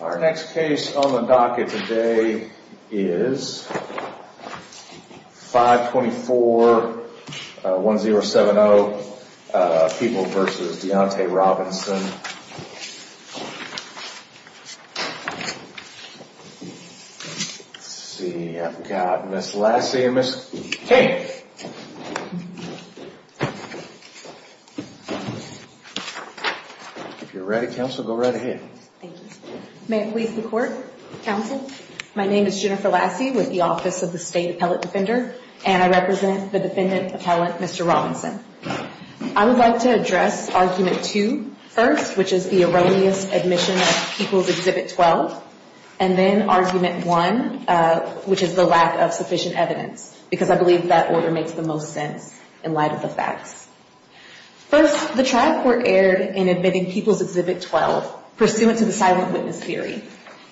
Our next case on the docket today is 524-1070, People v. Deontay Robinson. Let's see, I've got Ms. Lassie and Ms. King. If you're ready, counsel, go right ahead. Thank you. May it please the Court? Counsel? My name is Jennifer Lassie with the Office of the State Appellate Defender, and I represent the Defendant Appellant Mr. Robinson. I would like to address Argument 2 first, which is the erroneous admission of People's Exhibit 12, and then Argument 1, which is the lack of sufficient evidence, because I believe that order makes the most sense in light of the facts. First, the trial court erred in admitting People's Exhibit 12 pursuant to the silent witness theory.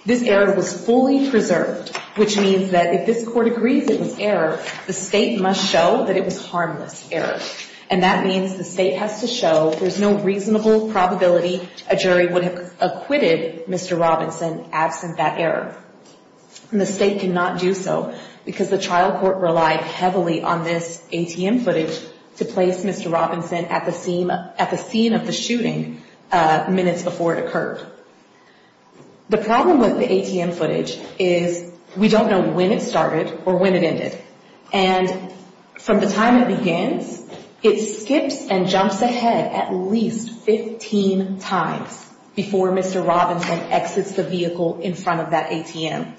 This error was fully preserved, which means that if this Court agrees it was error, the State must show that it was harmless error, and that means the State has to show there's no reasonable probability a jury would have acquitted Mr. Robinson absent that error, and the State cannot do so because the trial court relied heavily on this ATM footage to place Mr. Robinson at the scene of the shooting minutes before it occurred. The problem with the ATM footage is we don't know when it started or when it ended, and from the time it begins, it skips and jumps ahead at least 15 times before Mr. Robinson exits the vehicle in front of that ATM,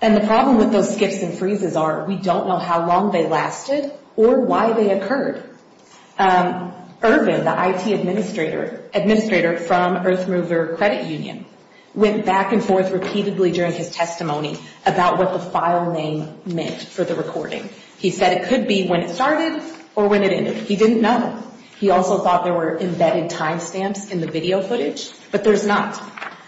and the problem with those skips and freezes are we don't know how long they lasted or why they occurred. Ervin, the IT administrator from Earthmover Credit Union, went back and forth repeatedly during his testimony about what the file name meant for the recording. He said it could be when it started or when it ended. He didn't know. He also thought there were embedded timestamps in the video footage, but there's not,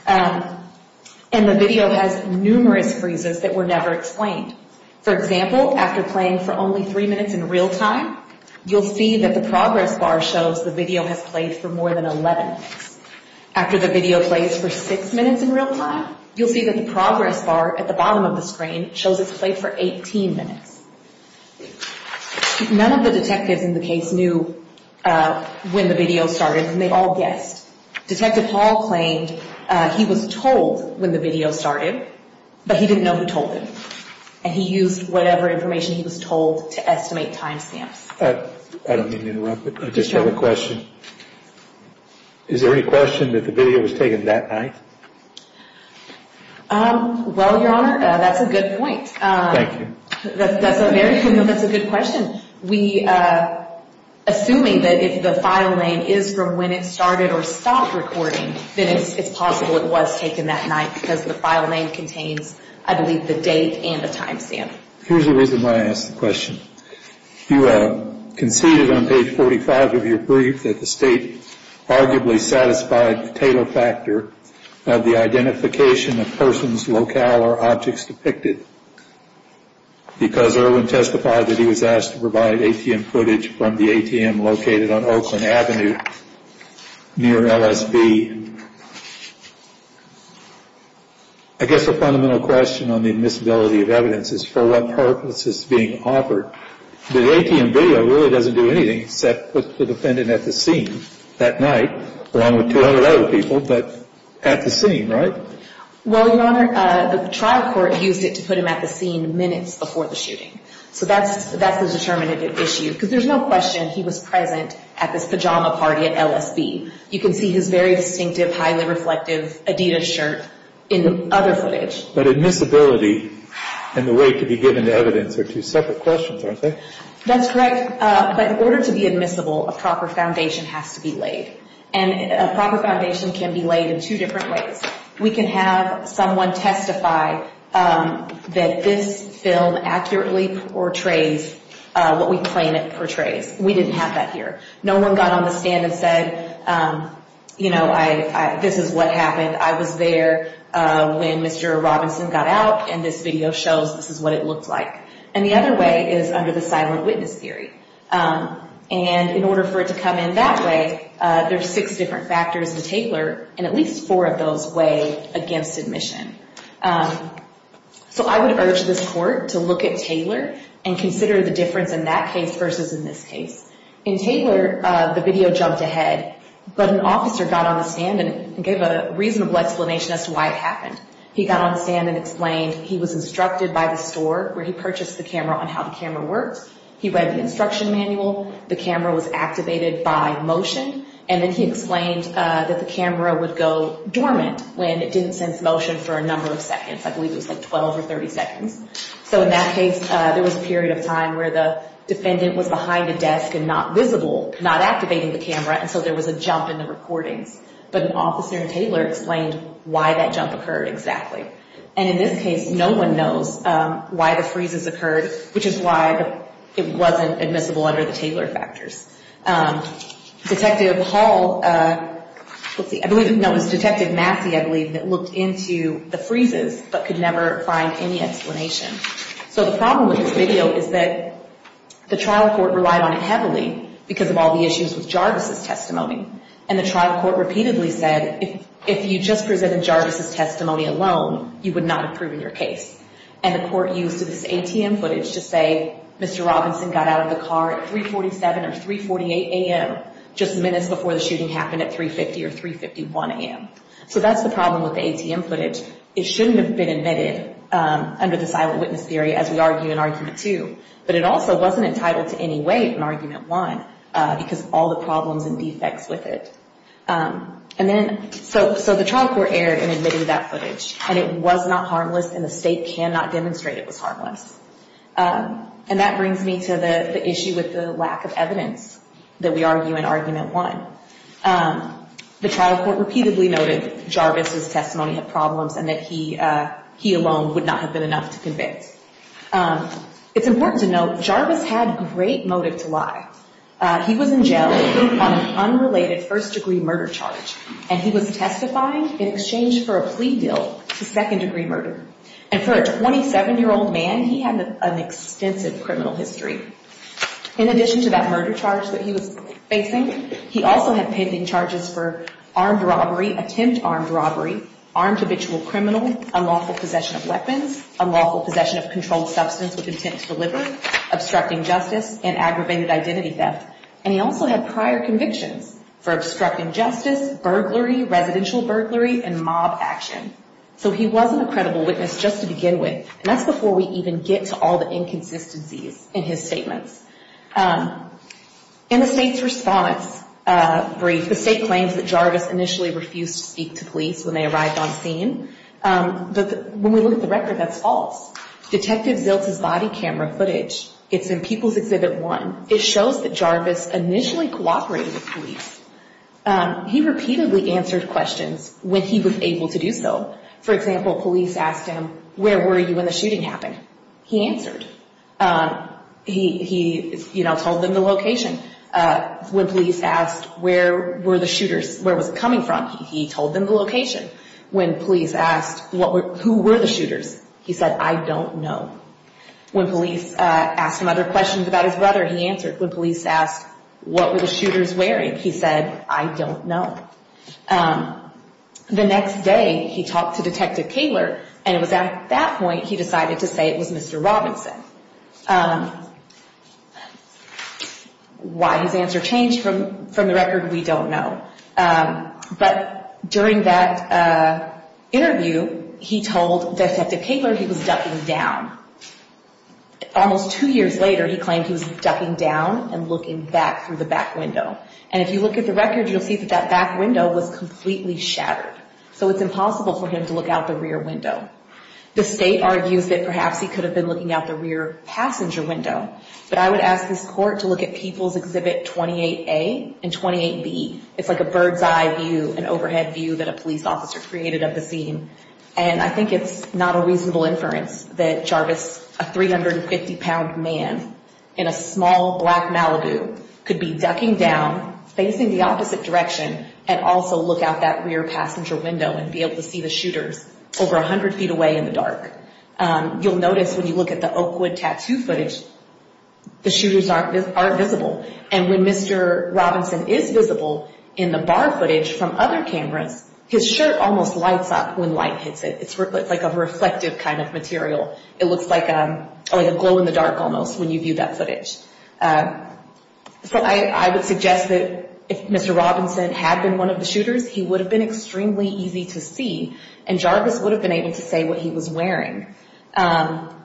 and the video has numerous freezes that were never explained. For example, after playing for only three minutes in real time, you'll see that the progress bar shows the video has played for more than 11 minutes. After the video plays for six minutes in real time, you'll see that the progress bar at the bottom of the screen shows it's played for 18 minutes. None of the detectives in the case knew when the video started, and they all guessed. Detective Hall claimed he was told when the video started, but he didn't know who told him, and he used whatever information he was told to estimate timestamps. I don't mean to interrupt, but I just have a question. Is there any question that the video was taken that night? Well, Your Honor, that's a good point. Thank you. That's a good question. Assuming that the file name is from when it started or stopped recording, then it's possible it was taken that night because the file name contains, I believe, the date and the timestamp. Here's the reason why I asked the question. You conceded on page 45 of your brief that the State arguably satisfied the tater factor of the identification of persons, locale, or objects depicted, because Irwin testified that he was asked to provide ATM footage from the ATM located on Oakland Avenue near LSB. I guess the fundamental question on the admissibility of evidence is for what purpose is being offered. The ATM video really doesn't do anything except put the defendant at the scene that night, along with 200 other people, but at the scene, right? Well, Your Honor, the trial court used it to put him at the scene minutes before the shooting. So that's the determinative issue, because there's no question he was present at this pajama party at LSB. You can see his very distinctive, highly reflective Adidas shirt in other footage. But admissibility and the way it could be given to evidence are two separate questions, aren't they? That's correct. But in order to be admissible, a proper foundation has to be laid, and a proper foundation can be laid in two different ways. We can have someone testify that this film accurately portrays what we claim it portrays. We didn't have that here. No one got on the stand and said, you know, this is what happened. I was there when Mr. Robinson got out, and this video shows this is what it looked like. And the other way is under the silent witness theory. And in order for it to come in that way, there's six different factors to tailor, and at least four of those weigh against admission. So I would urge this court to look at Taylor and consider the difference in that case versus in this case. In Taylor, the video jumped ahead, but an officer got on the stand and gave a reasonable explanation as to why it happened. He got on the stand and explained he was instructed by the store where he purchased the camera on how the camera works. He read the instruction manual. The camera was activated by motion. And then he explained that the camera would go dormant when it didn't sense motion for a number of seconds. I believe it was like 12 or 30 seconds. So in that case, there was a period of time where the defendant was behind a desk and not visible, not activating the camera, and so there was a jump in the recordings. But an officer in Taylor explained why that jump occurred exactly. And in this case, no one knows why the freezes occurred, which is why it wasn't admissible under the Taylor factors. Detective Hall, let's see, I believe, no, it was Detective Matthew, I believe, that looked into the freezes but could never find any explanation. So the problem with this video is that the trial court relied on it heavily because of all the issues with Jarvis' testimony. And the trial court repeatedly said if you just presented Jarvis' testimony alone, you would not have proven your case. And the court used this ATM footage to say Mr. Robinson got out of the car at 3.47 or 3.48 a.m., just minutes before the shooting happened at 3.50 or 3.51 a.m. So that's the problem with the ATM footage. It shouldn't have been admitted under the silent witness theory as we argue in Argument 2. But it also wasn't entitled to any weight in Argument 1 because of all the problems and defects with it. And then, so the trial court erred in admitting that footage. And it was not harmless and the state cannot demonstrate it was harmless. And that brings me to the issue with the lack of evidence that we argue in Argument 1. The trial court repeatedly noted Jarvis' testimony had problems and that he alone would not have been enough to convict. It's important to note Jarvis had great motive to lie. He was in jail on an unrelated first-degree murder charge. And he was testifying in exchange for a plea deal to second-degree murder. And for a 27-year-old man, he had an extensive criminal history. In addition to that murder charge that he was facing, he also had pending charges for armed robbery, attempt armed robbery, armed habitual criminal, unlawful possession of weapons, unlawful possession of controlled substance with intent to deliver, obstructing justice, and aggravated identity theft. And he also had prior convictions for obstructing justice, burglary, residential burglary, and mob action. So he wasn't a credible witness just to begin with. And that's before we even get to all the inconsistencies in his statements. In the state's response brief, the state claims that Jarvis initially refused to speak to police when they arrived on scene. But when we look at the record, that's false. Detective Ziltz's body camera footage, it's in People's Exhibit 1. It shows that Jarvis initially cooperated with police. He repeatedly answered questions when he was able to do so. For example, police asked him, where were you when the shooting happened? He answered. He, you know, told them the location. When police asked, where were the shooters, where was it coming from, he told them the location. When police asked, who were the shooters, he said, I don't know. When police asked him other questions about his brother, he answered. When police asked, what were the shooters wearing, he said, I don't know. The next day, he talked to Detective Kaler, and it was at that point he decided to say it was Mr. Robinson. Why his answer changed from the record, we don't know. But during that interview, he told Detective Kaler he was ducking down. Almost two years later, he claimed he was ducking down and looking back through the back window. And if you look at the record, you'll see that that back window was completely shattered. So it's impossible for him to look out the rear window. The state argues that perhaps he could have been looking out the rear passenger window. But I would ask this court to look at People's Exhibit 28A and 28B. It's like a bird's eye view, an overhead view that a police officer created of the scene. And I think it's not a reasonable inference that Jarvis, a 350-pound man in a small black Malibu, could be ducking down, facing the opposite direction, and also look out that rear passenger window and be able to see the shooters over 100 feet away in the dark. You'll notice when you look at the Oakwood tattoo footage, the shooters aren't visible. And when Mr. Robinson is visible in the bar footage from other cameras, his shirt almost lights up when light hits it. It's like a reflective kind of material. It looks like a glow-in-the-dark almost when you view that footage. So I would suggest that if Mr. Robinson had been one of the shooters, he would have been extremely easy to see, and Jarvis would have been able to say what he was wearing. And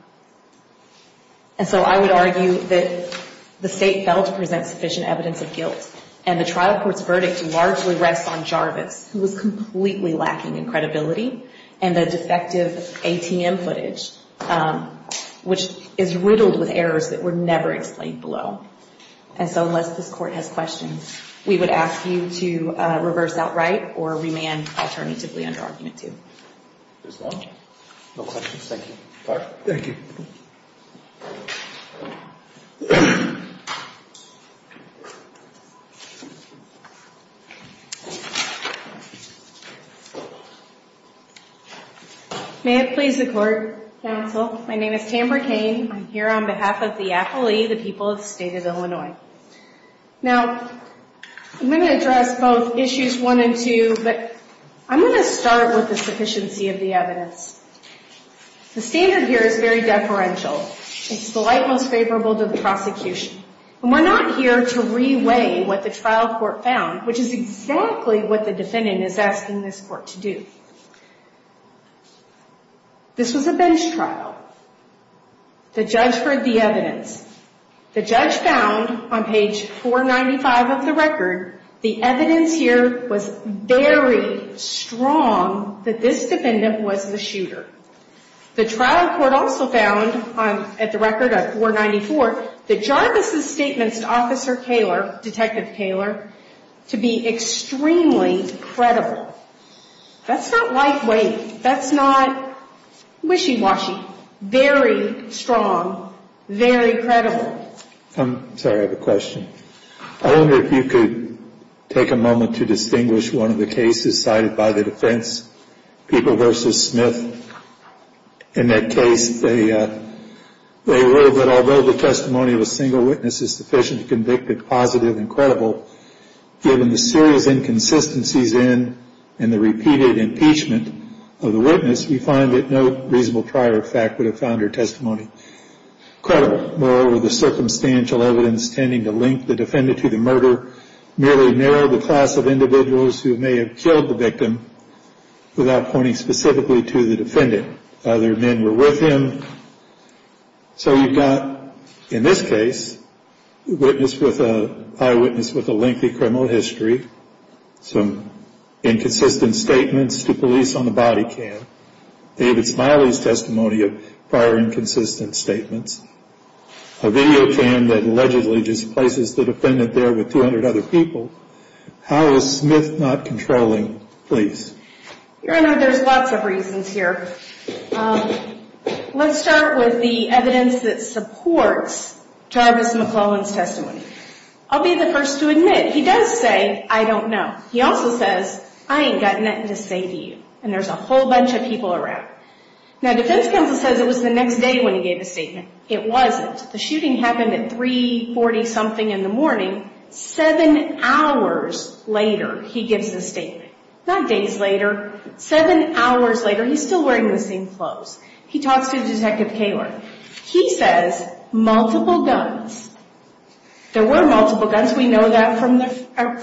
so I would argue that the State failed to present sufficient evidence of guilt, and the trial court's verdict largely rests on Jarvis, who was completely lacking in credibility, and the defective ATM footage, which is riddled with errors that were never explained below. And so unless this Court has questions, we would ask you to reverse outright or remand alternatively under Argument 2. There's none? No questions? Thank you. Thank you. May it please the Court, Counsel. My name is Tamber Cain. I'm here on behalf of the affilee, the people of the State of Illinois. Now, I'm going to address both issues 1 and 2, but I'm going to start with the sufficiency of the evidence. The standard here is very deferential. It's the light most favorable to the prosecution. And we're not here to re-weigh what the trial court found, which is exactly what the defendant is asking this Court to do. This was a bench trial. The judge heard the evidence. The judge found, on page 495 of the record, the evidence here was very strong that this defendant was the shooter. The trial court also found, at the record of 494, that Jarvis' statements to Officer Kaler, Detective Kaler, to be extremely credible. That's not lightweight. That's not wishy-washy. Very strong, very credible. I'm sorry, I have a question. I wonder if you could take a moment to distinguish one of the cases cited by the defense, People v. Smith. In that case, they wrote that, although the testimony of a single witness is sufficiently convicted, positive, and credible, given the serious inconsistencies in and the repeated impeachment of the witness, we find that no reasonable prior fact would have found her testimony credible. Moreover, the circumstantial evidence tending to link the defendant to the murder merely narrowed the class of individuals who may have killed the victim without pointing specifically to the defendant. Other men were with him. So you've got, in this case, a witness with a – eyewitness with a lengthy criminal history, some inconsistent statements to police on the body cam, David Smiley's testimony of prior inconsistent statements, a video cam that allegedly displaces the defendant there with 200 other people. How is Smith not controlling police? Your Honor, there's lots of reasons here. Let's start with the evidence that supports Jarvis McClellan's testimony. I'll be the first to admit, he does say, I don't know. He also says, I ain't got nothing to say to you. And there's a whole bunch of people around. Now, defense counsel says it was the next day when he gave his statement. It wasn't. The shooting happened at 340-something in the morning. Seven hours later, he gives his statement. Not days later. Seven hours later, he's still wearing the same clothes. He talks to Detective Kaler. He says multiple guns. There were multiple guns. We know that from the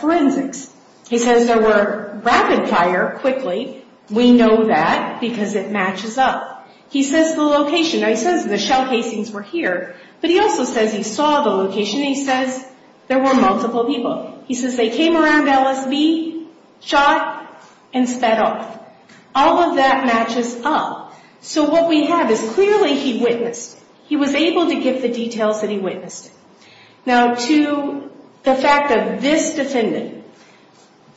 forensics. He says there were rapid fire, quickly. We know that because it matches up. He says the location. He says the shell casings were here. But he also says he saw the location. He says there were multiple people. He says they came around LSV, shot, and sped off. All of that matches up. So what we have is clearly he witnessed. He was able to give the details that he witnessed. Now, to the fact of this defendant,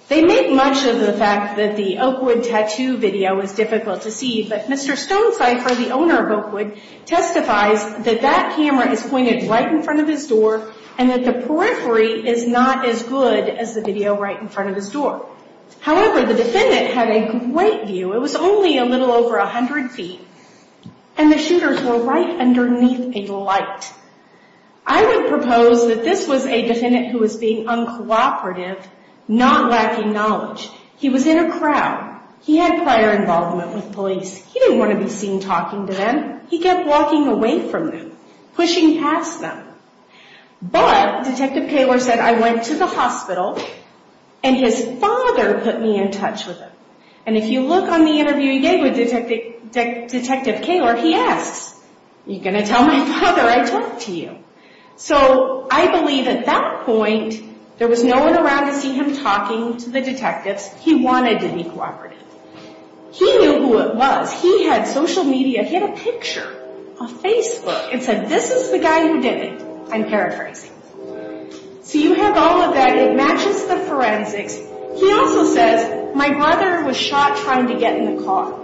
they make much of the fact that the Oakwood tattoo video is difficult to see. But Mr. Stonecipher, the owner of Oakwood, testifies that that camera is pointed right in front of his door and that the periphery is not as good as the video right in front of his door. However, the defendant had a great view. It was only a little over 100 feet, and the shooters were right underneath a light. I would propose that this was a defendant who was being uncooperative, not lacking knowledge. He was in a crowd. He had prior involvement with police. He didn't want to be seen talking to them. He kept walking away from them, pushing past them. But Detective Kaler said, I went to the hospital, and his father put me in touch with him. And if you look on the interview he gave with Detective Kaler, he asks, are you going to tell my father I talked to you? So I believe at that point, there was no one around to see him talking to the detectives. He wanted to be cooperative. He knew who it was. He had social media. He had a picture on Facebook. It said, this is the guy who did it. I'm paraphrasing. So you have all of that. It matches the forensics. He also says, my brother was shot trying to get in the car.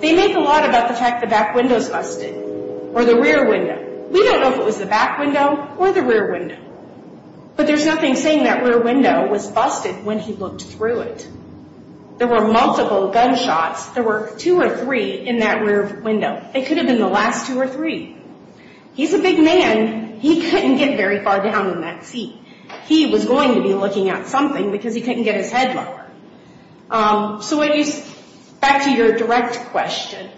They make a lot about the fact the back window is busted or the rear window. We don't know if it was the back window or the rear window. But there's nothing saying that rear window was busted when he looked through it. There were multiple gunshots. There were two or three in that rear window. It could have been the last two or three. He's a big man. He couldn't get very far down in that seat. He was going to be looking at something because he couldn't get his head lower. So back to your direct question.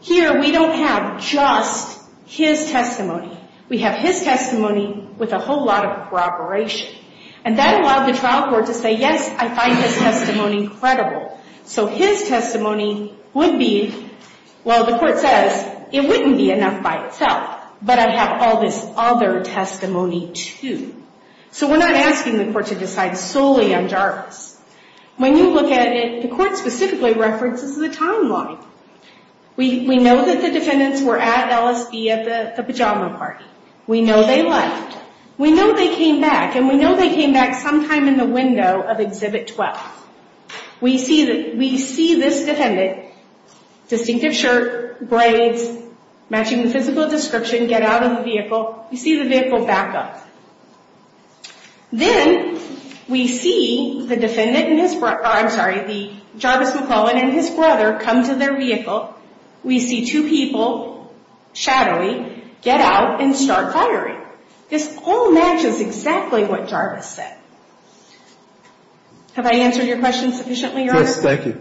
Here, we don't have just his testimony. We have his testimony with a whole lot of corroboration. And that allowed the trial court to say, yes, I find his testimony credible. So his testimony would be, well, the court says, it wouldn't be enough by itself. But I have all this other testimony, too. So we're not asking the court to decide solely on Jarvis. When you look at it, the court specifically references the timeline. We know that the defendants were at LSB at the pajama party. We know they left. We know they came back. And we know they came back sometime in the window of Exhibit 12. We see this defendant, distinctive shirt, braids, matching the physical description, get out of the vehicle. We see the vehicle back up. Then we see Jarvis McClellan and his brother come to their vehicle. We see two people shadowing get out and start firing. This all matches exactly what Jarvis said. Have I answered your question sufficiently, Your Honor? Yes, thank you.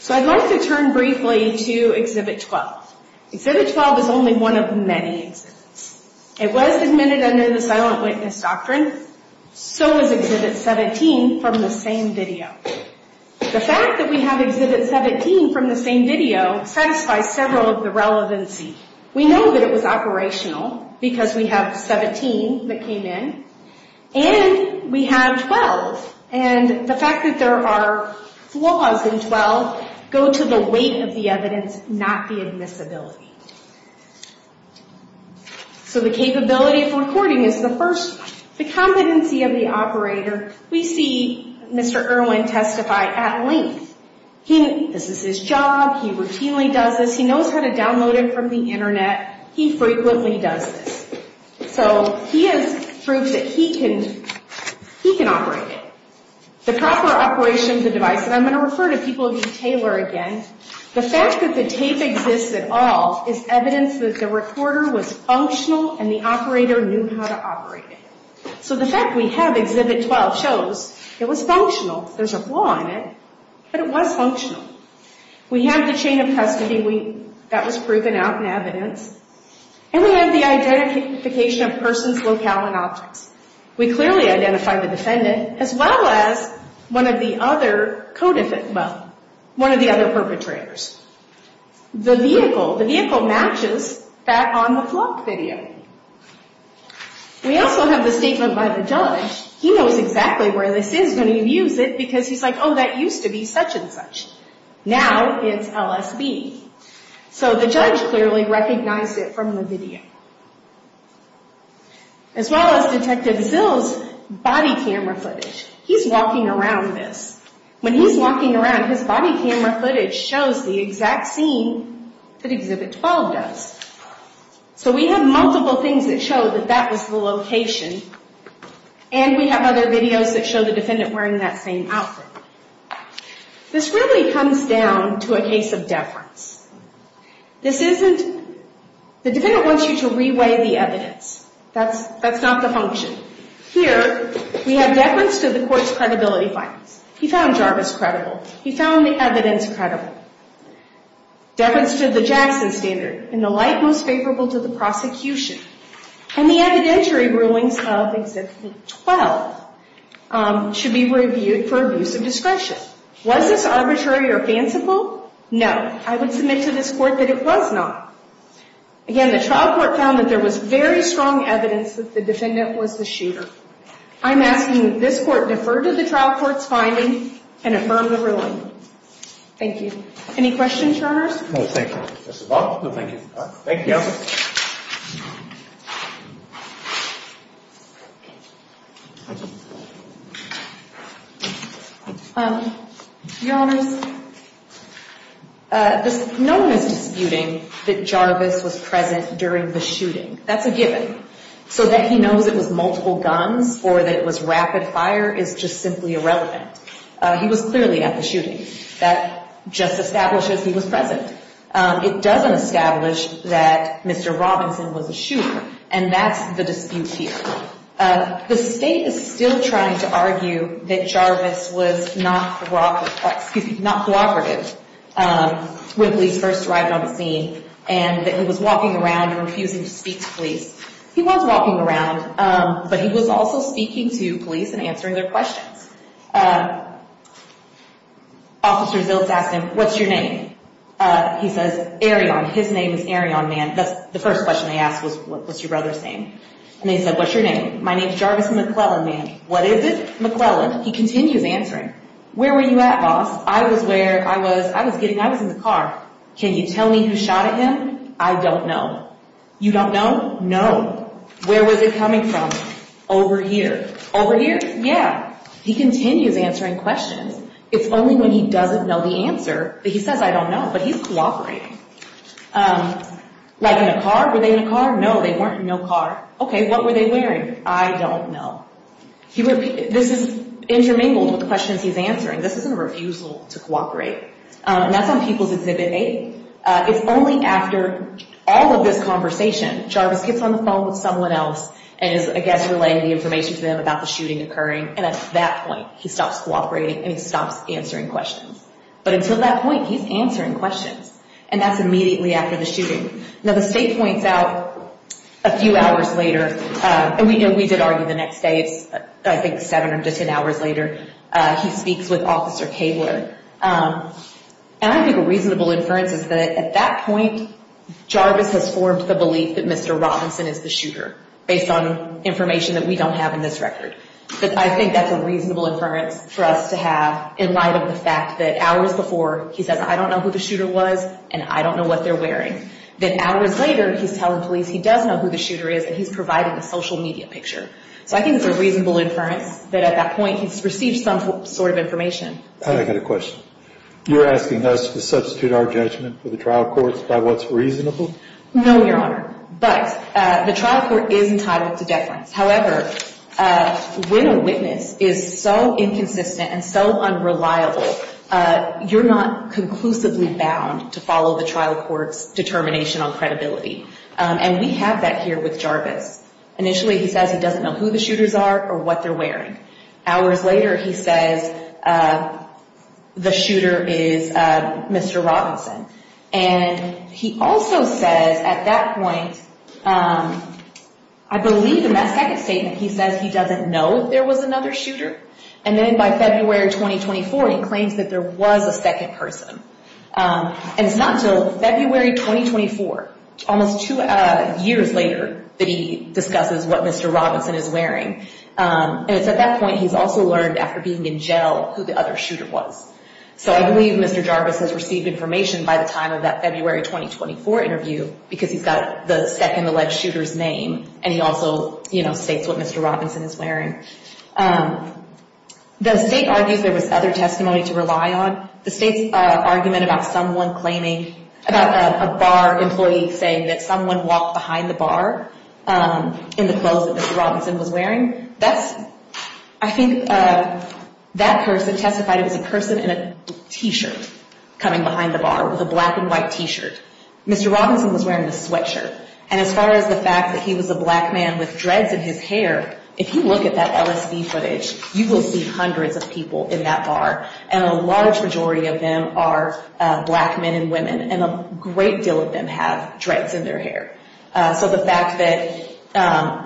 So I'd like to turn briefly to Exhibit 12. Exhibit 12 is only one of many exhibits. It was admitted under the silent witness doctrine. So was Exhibit 17 from the same video. The fact that we have Exhibit 17 from the same video satisfies several of the relevancy. We know that it was operational because we have 17 that came in. And we have 12. And the fact that there are flaws in 12 go to the weight of the evidence, not the admissibility. So the capability of recording is the first one. The competency of the operator, we see Mr. Irwin testify at length. This is his job. He routinely does this. He knows how to download it from the Internet. He frequently does this. So he has proved that he can operate it. The proper operation of the device, and I'm going to refer to people named Taylor again. The fact that the tape exists at all is evidence that the recorder was functional and the operator knew how to operate it. So the fact we have Exhibit 12 shows it was functional. There's a flaw in it, but it was functional. We have the chain of custody. That was proven out in evidence. And we have the identification of persons, locale, and objects. We clearly identify the defendant as well as one of the other co-defendant, well, one of the other perpetrators. The vehicle, the vehicle matches that on the vlog video. We also have the statement by the judge. He knows exactly where this is when he views it because he's like, oh, that used to be such and such. Now it's LSB. So the judge clearly recognized it from the video. As well as Detective Zill's body camera footage. He's walking around this. When he's walking around, his body camera footage shows the exact scene that Exhibit 12 does. So we have multiple things that show that that was the location. And we have other videos that show the defendant wearing that same outfit. This really comes down to a case of deference. This isn't, the defendant wants you to re-weigh the evidence. That's not the function. Here, we have deference to the court's credibility findings. He found Jarvis credible. He found the evidence credible. Deference to the Jackson Standard. In the light most favorable to the prosecution. And the evidentiary rulings of Exhibit 12 should be reviewed for abuse of discretion. Was this arbitrary or fanciful? No. I would submit to this court that it was not. Again, the trial court found that there was very strong evidence that the defendant was the shooter. I'm asking that this court defer to the trial court's finding and affirm the ruling. Thank you. Any questions, jurors? No, thank you. Thank you. Your Honors, no one is disputing that Jarvis was present during the shooting. That's a given. So that he knows it was multiple guns or that it was rapid fire is just simply irrelevant. He was clearly at the shooting. That just establishes he was present. It doesn't establish that Mr. Robinson was the shooter. And that's the dispute here. The state is still trying to argue that Jarvis was not cooperative when police first arrived on the scene. And that he was walking around and refusing to speak to police. He was walking around, but he was also speaking to police and answering their questions. Officer Ziltz asked him, what's your name? He says, Arion. His name is Arion, man. That's the first question they asked was, what's your brother's name? And they said, what's your name? My name is Jarvis McClellan, man. What is it? McClellan. He continues answering. Where were you at, boss? I was where I was. I was in the car. Can you tell me who shot at him? I don't know. You don't know? No. Where was it coming from? Over here. Over here? Yeah. He continues answering questions. It's only when he doesn't know the answer that he says, I don't know. But he's cooperating. Like, in a car? Were they in a car? No, they weren't in no car. Okay, what were they wearing? I don't know. This is intermingled with the questions he's answering. This isn't a refusal to cooperate. And that's on People's Exhibit 8. It's only after all of this conversation, Jarvis gets on the phone with someone else and is, I guess, relaying the information to them about the shooting occurring. And at that point, he stops cooperating and he stops answering questions. But until that point, he's answering questions. And that's immediately after the shooting. Now, the state points out a few hours later, and we did argue the next day, I think seven or just 10 hours later, he speaks with Officer Kaebler. And I think a reasonable inference is that at that point, Jarvis has formed the belief that Mr. Robinson is the shooter based on information that we don't have in this record. But I think that's a reasonable inference for us to have in light of the fact that hours before, he says, I don't know who the shooter was and I don't know what they're wearing. Then hours later, he's telling police he does know who the shooter is and he's providing a social media picture. So I think it's a reasonable inference that at that point, he's received some sort of information. I've got a question. You're asking us to substitute our judgment for the trial courts by what's reasonable? No, Your Honor. But the trial court is entitled to deference. However, when a witness is so inconsistent and so unreliable, you're not conclusively bound to follow the trial court's determination on credibility. And we have that here with Jarvis. Initially, he says he doesn't know who the shooters are or what they're wearing. Hours later, he says the shooter is Mr. Robinson. And he also says at that point, I believe in that second statement, he says he doesn't know if there was another shooter. And then by February 2024, he claims that there was a second person. And it's not until February 2024, almost two years later, that he discusses what Mr. Robinson is wearing. And it's at that point he's also learned after being in jail who the other shooter was. So I believe Mr. Jarvis has received information by the time of that February 2024 interview because he's got the second alleged shooter's name. And he also, you know, states what Mr. Robinson is wearing. The state argues there was other testimony to rely on. The state's argument about someone claiming, about a bar employee saying that someone walked behind the bar in the clothes that Mr. Robinson was wearing, I think that person testified it was a person in a T-shirt coming behind the bar with a black and white T-shirt. Mr. Robinson was wearing a sweatshirt. And as far as the fact that he was a black man with dreads in his hair, if you look at that LSD footage, you will see hundreds of people in that bar. And a large majority of them are black men and women. And a great deal of them have dreads in their hair. So the fact that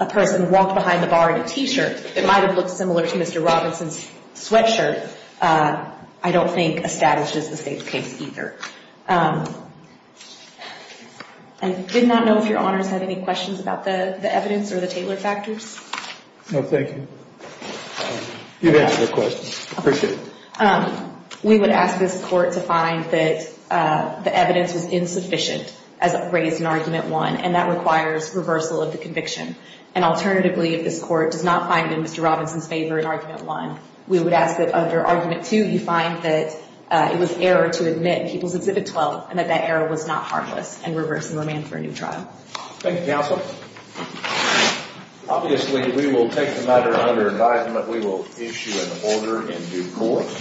a person walked behind the bar in a T-shirt that might have looked similar to Mr. Robinson's sweatshirt, I don't think establishes the state's case either. I did not know if Your Honors had any questions about the evidence or the Taylor factors. No, thank you. You've answered the question. Appreciate it. We would ask this court to find that the evidence was insufficient as raised in Argument 1, and that requires reversal of the conviction. And alternatively, if this court does not find in Mr. Robinson's favor in Argument 1, we would ask that under Argument 2 you find that it was error to admit in People's Exhibit 12 and that that error was not harmless and reverse the remand for a new trial. Thank you, Counsel. Obviously, we will take the matter under advisement. We will issue an order in due course.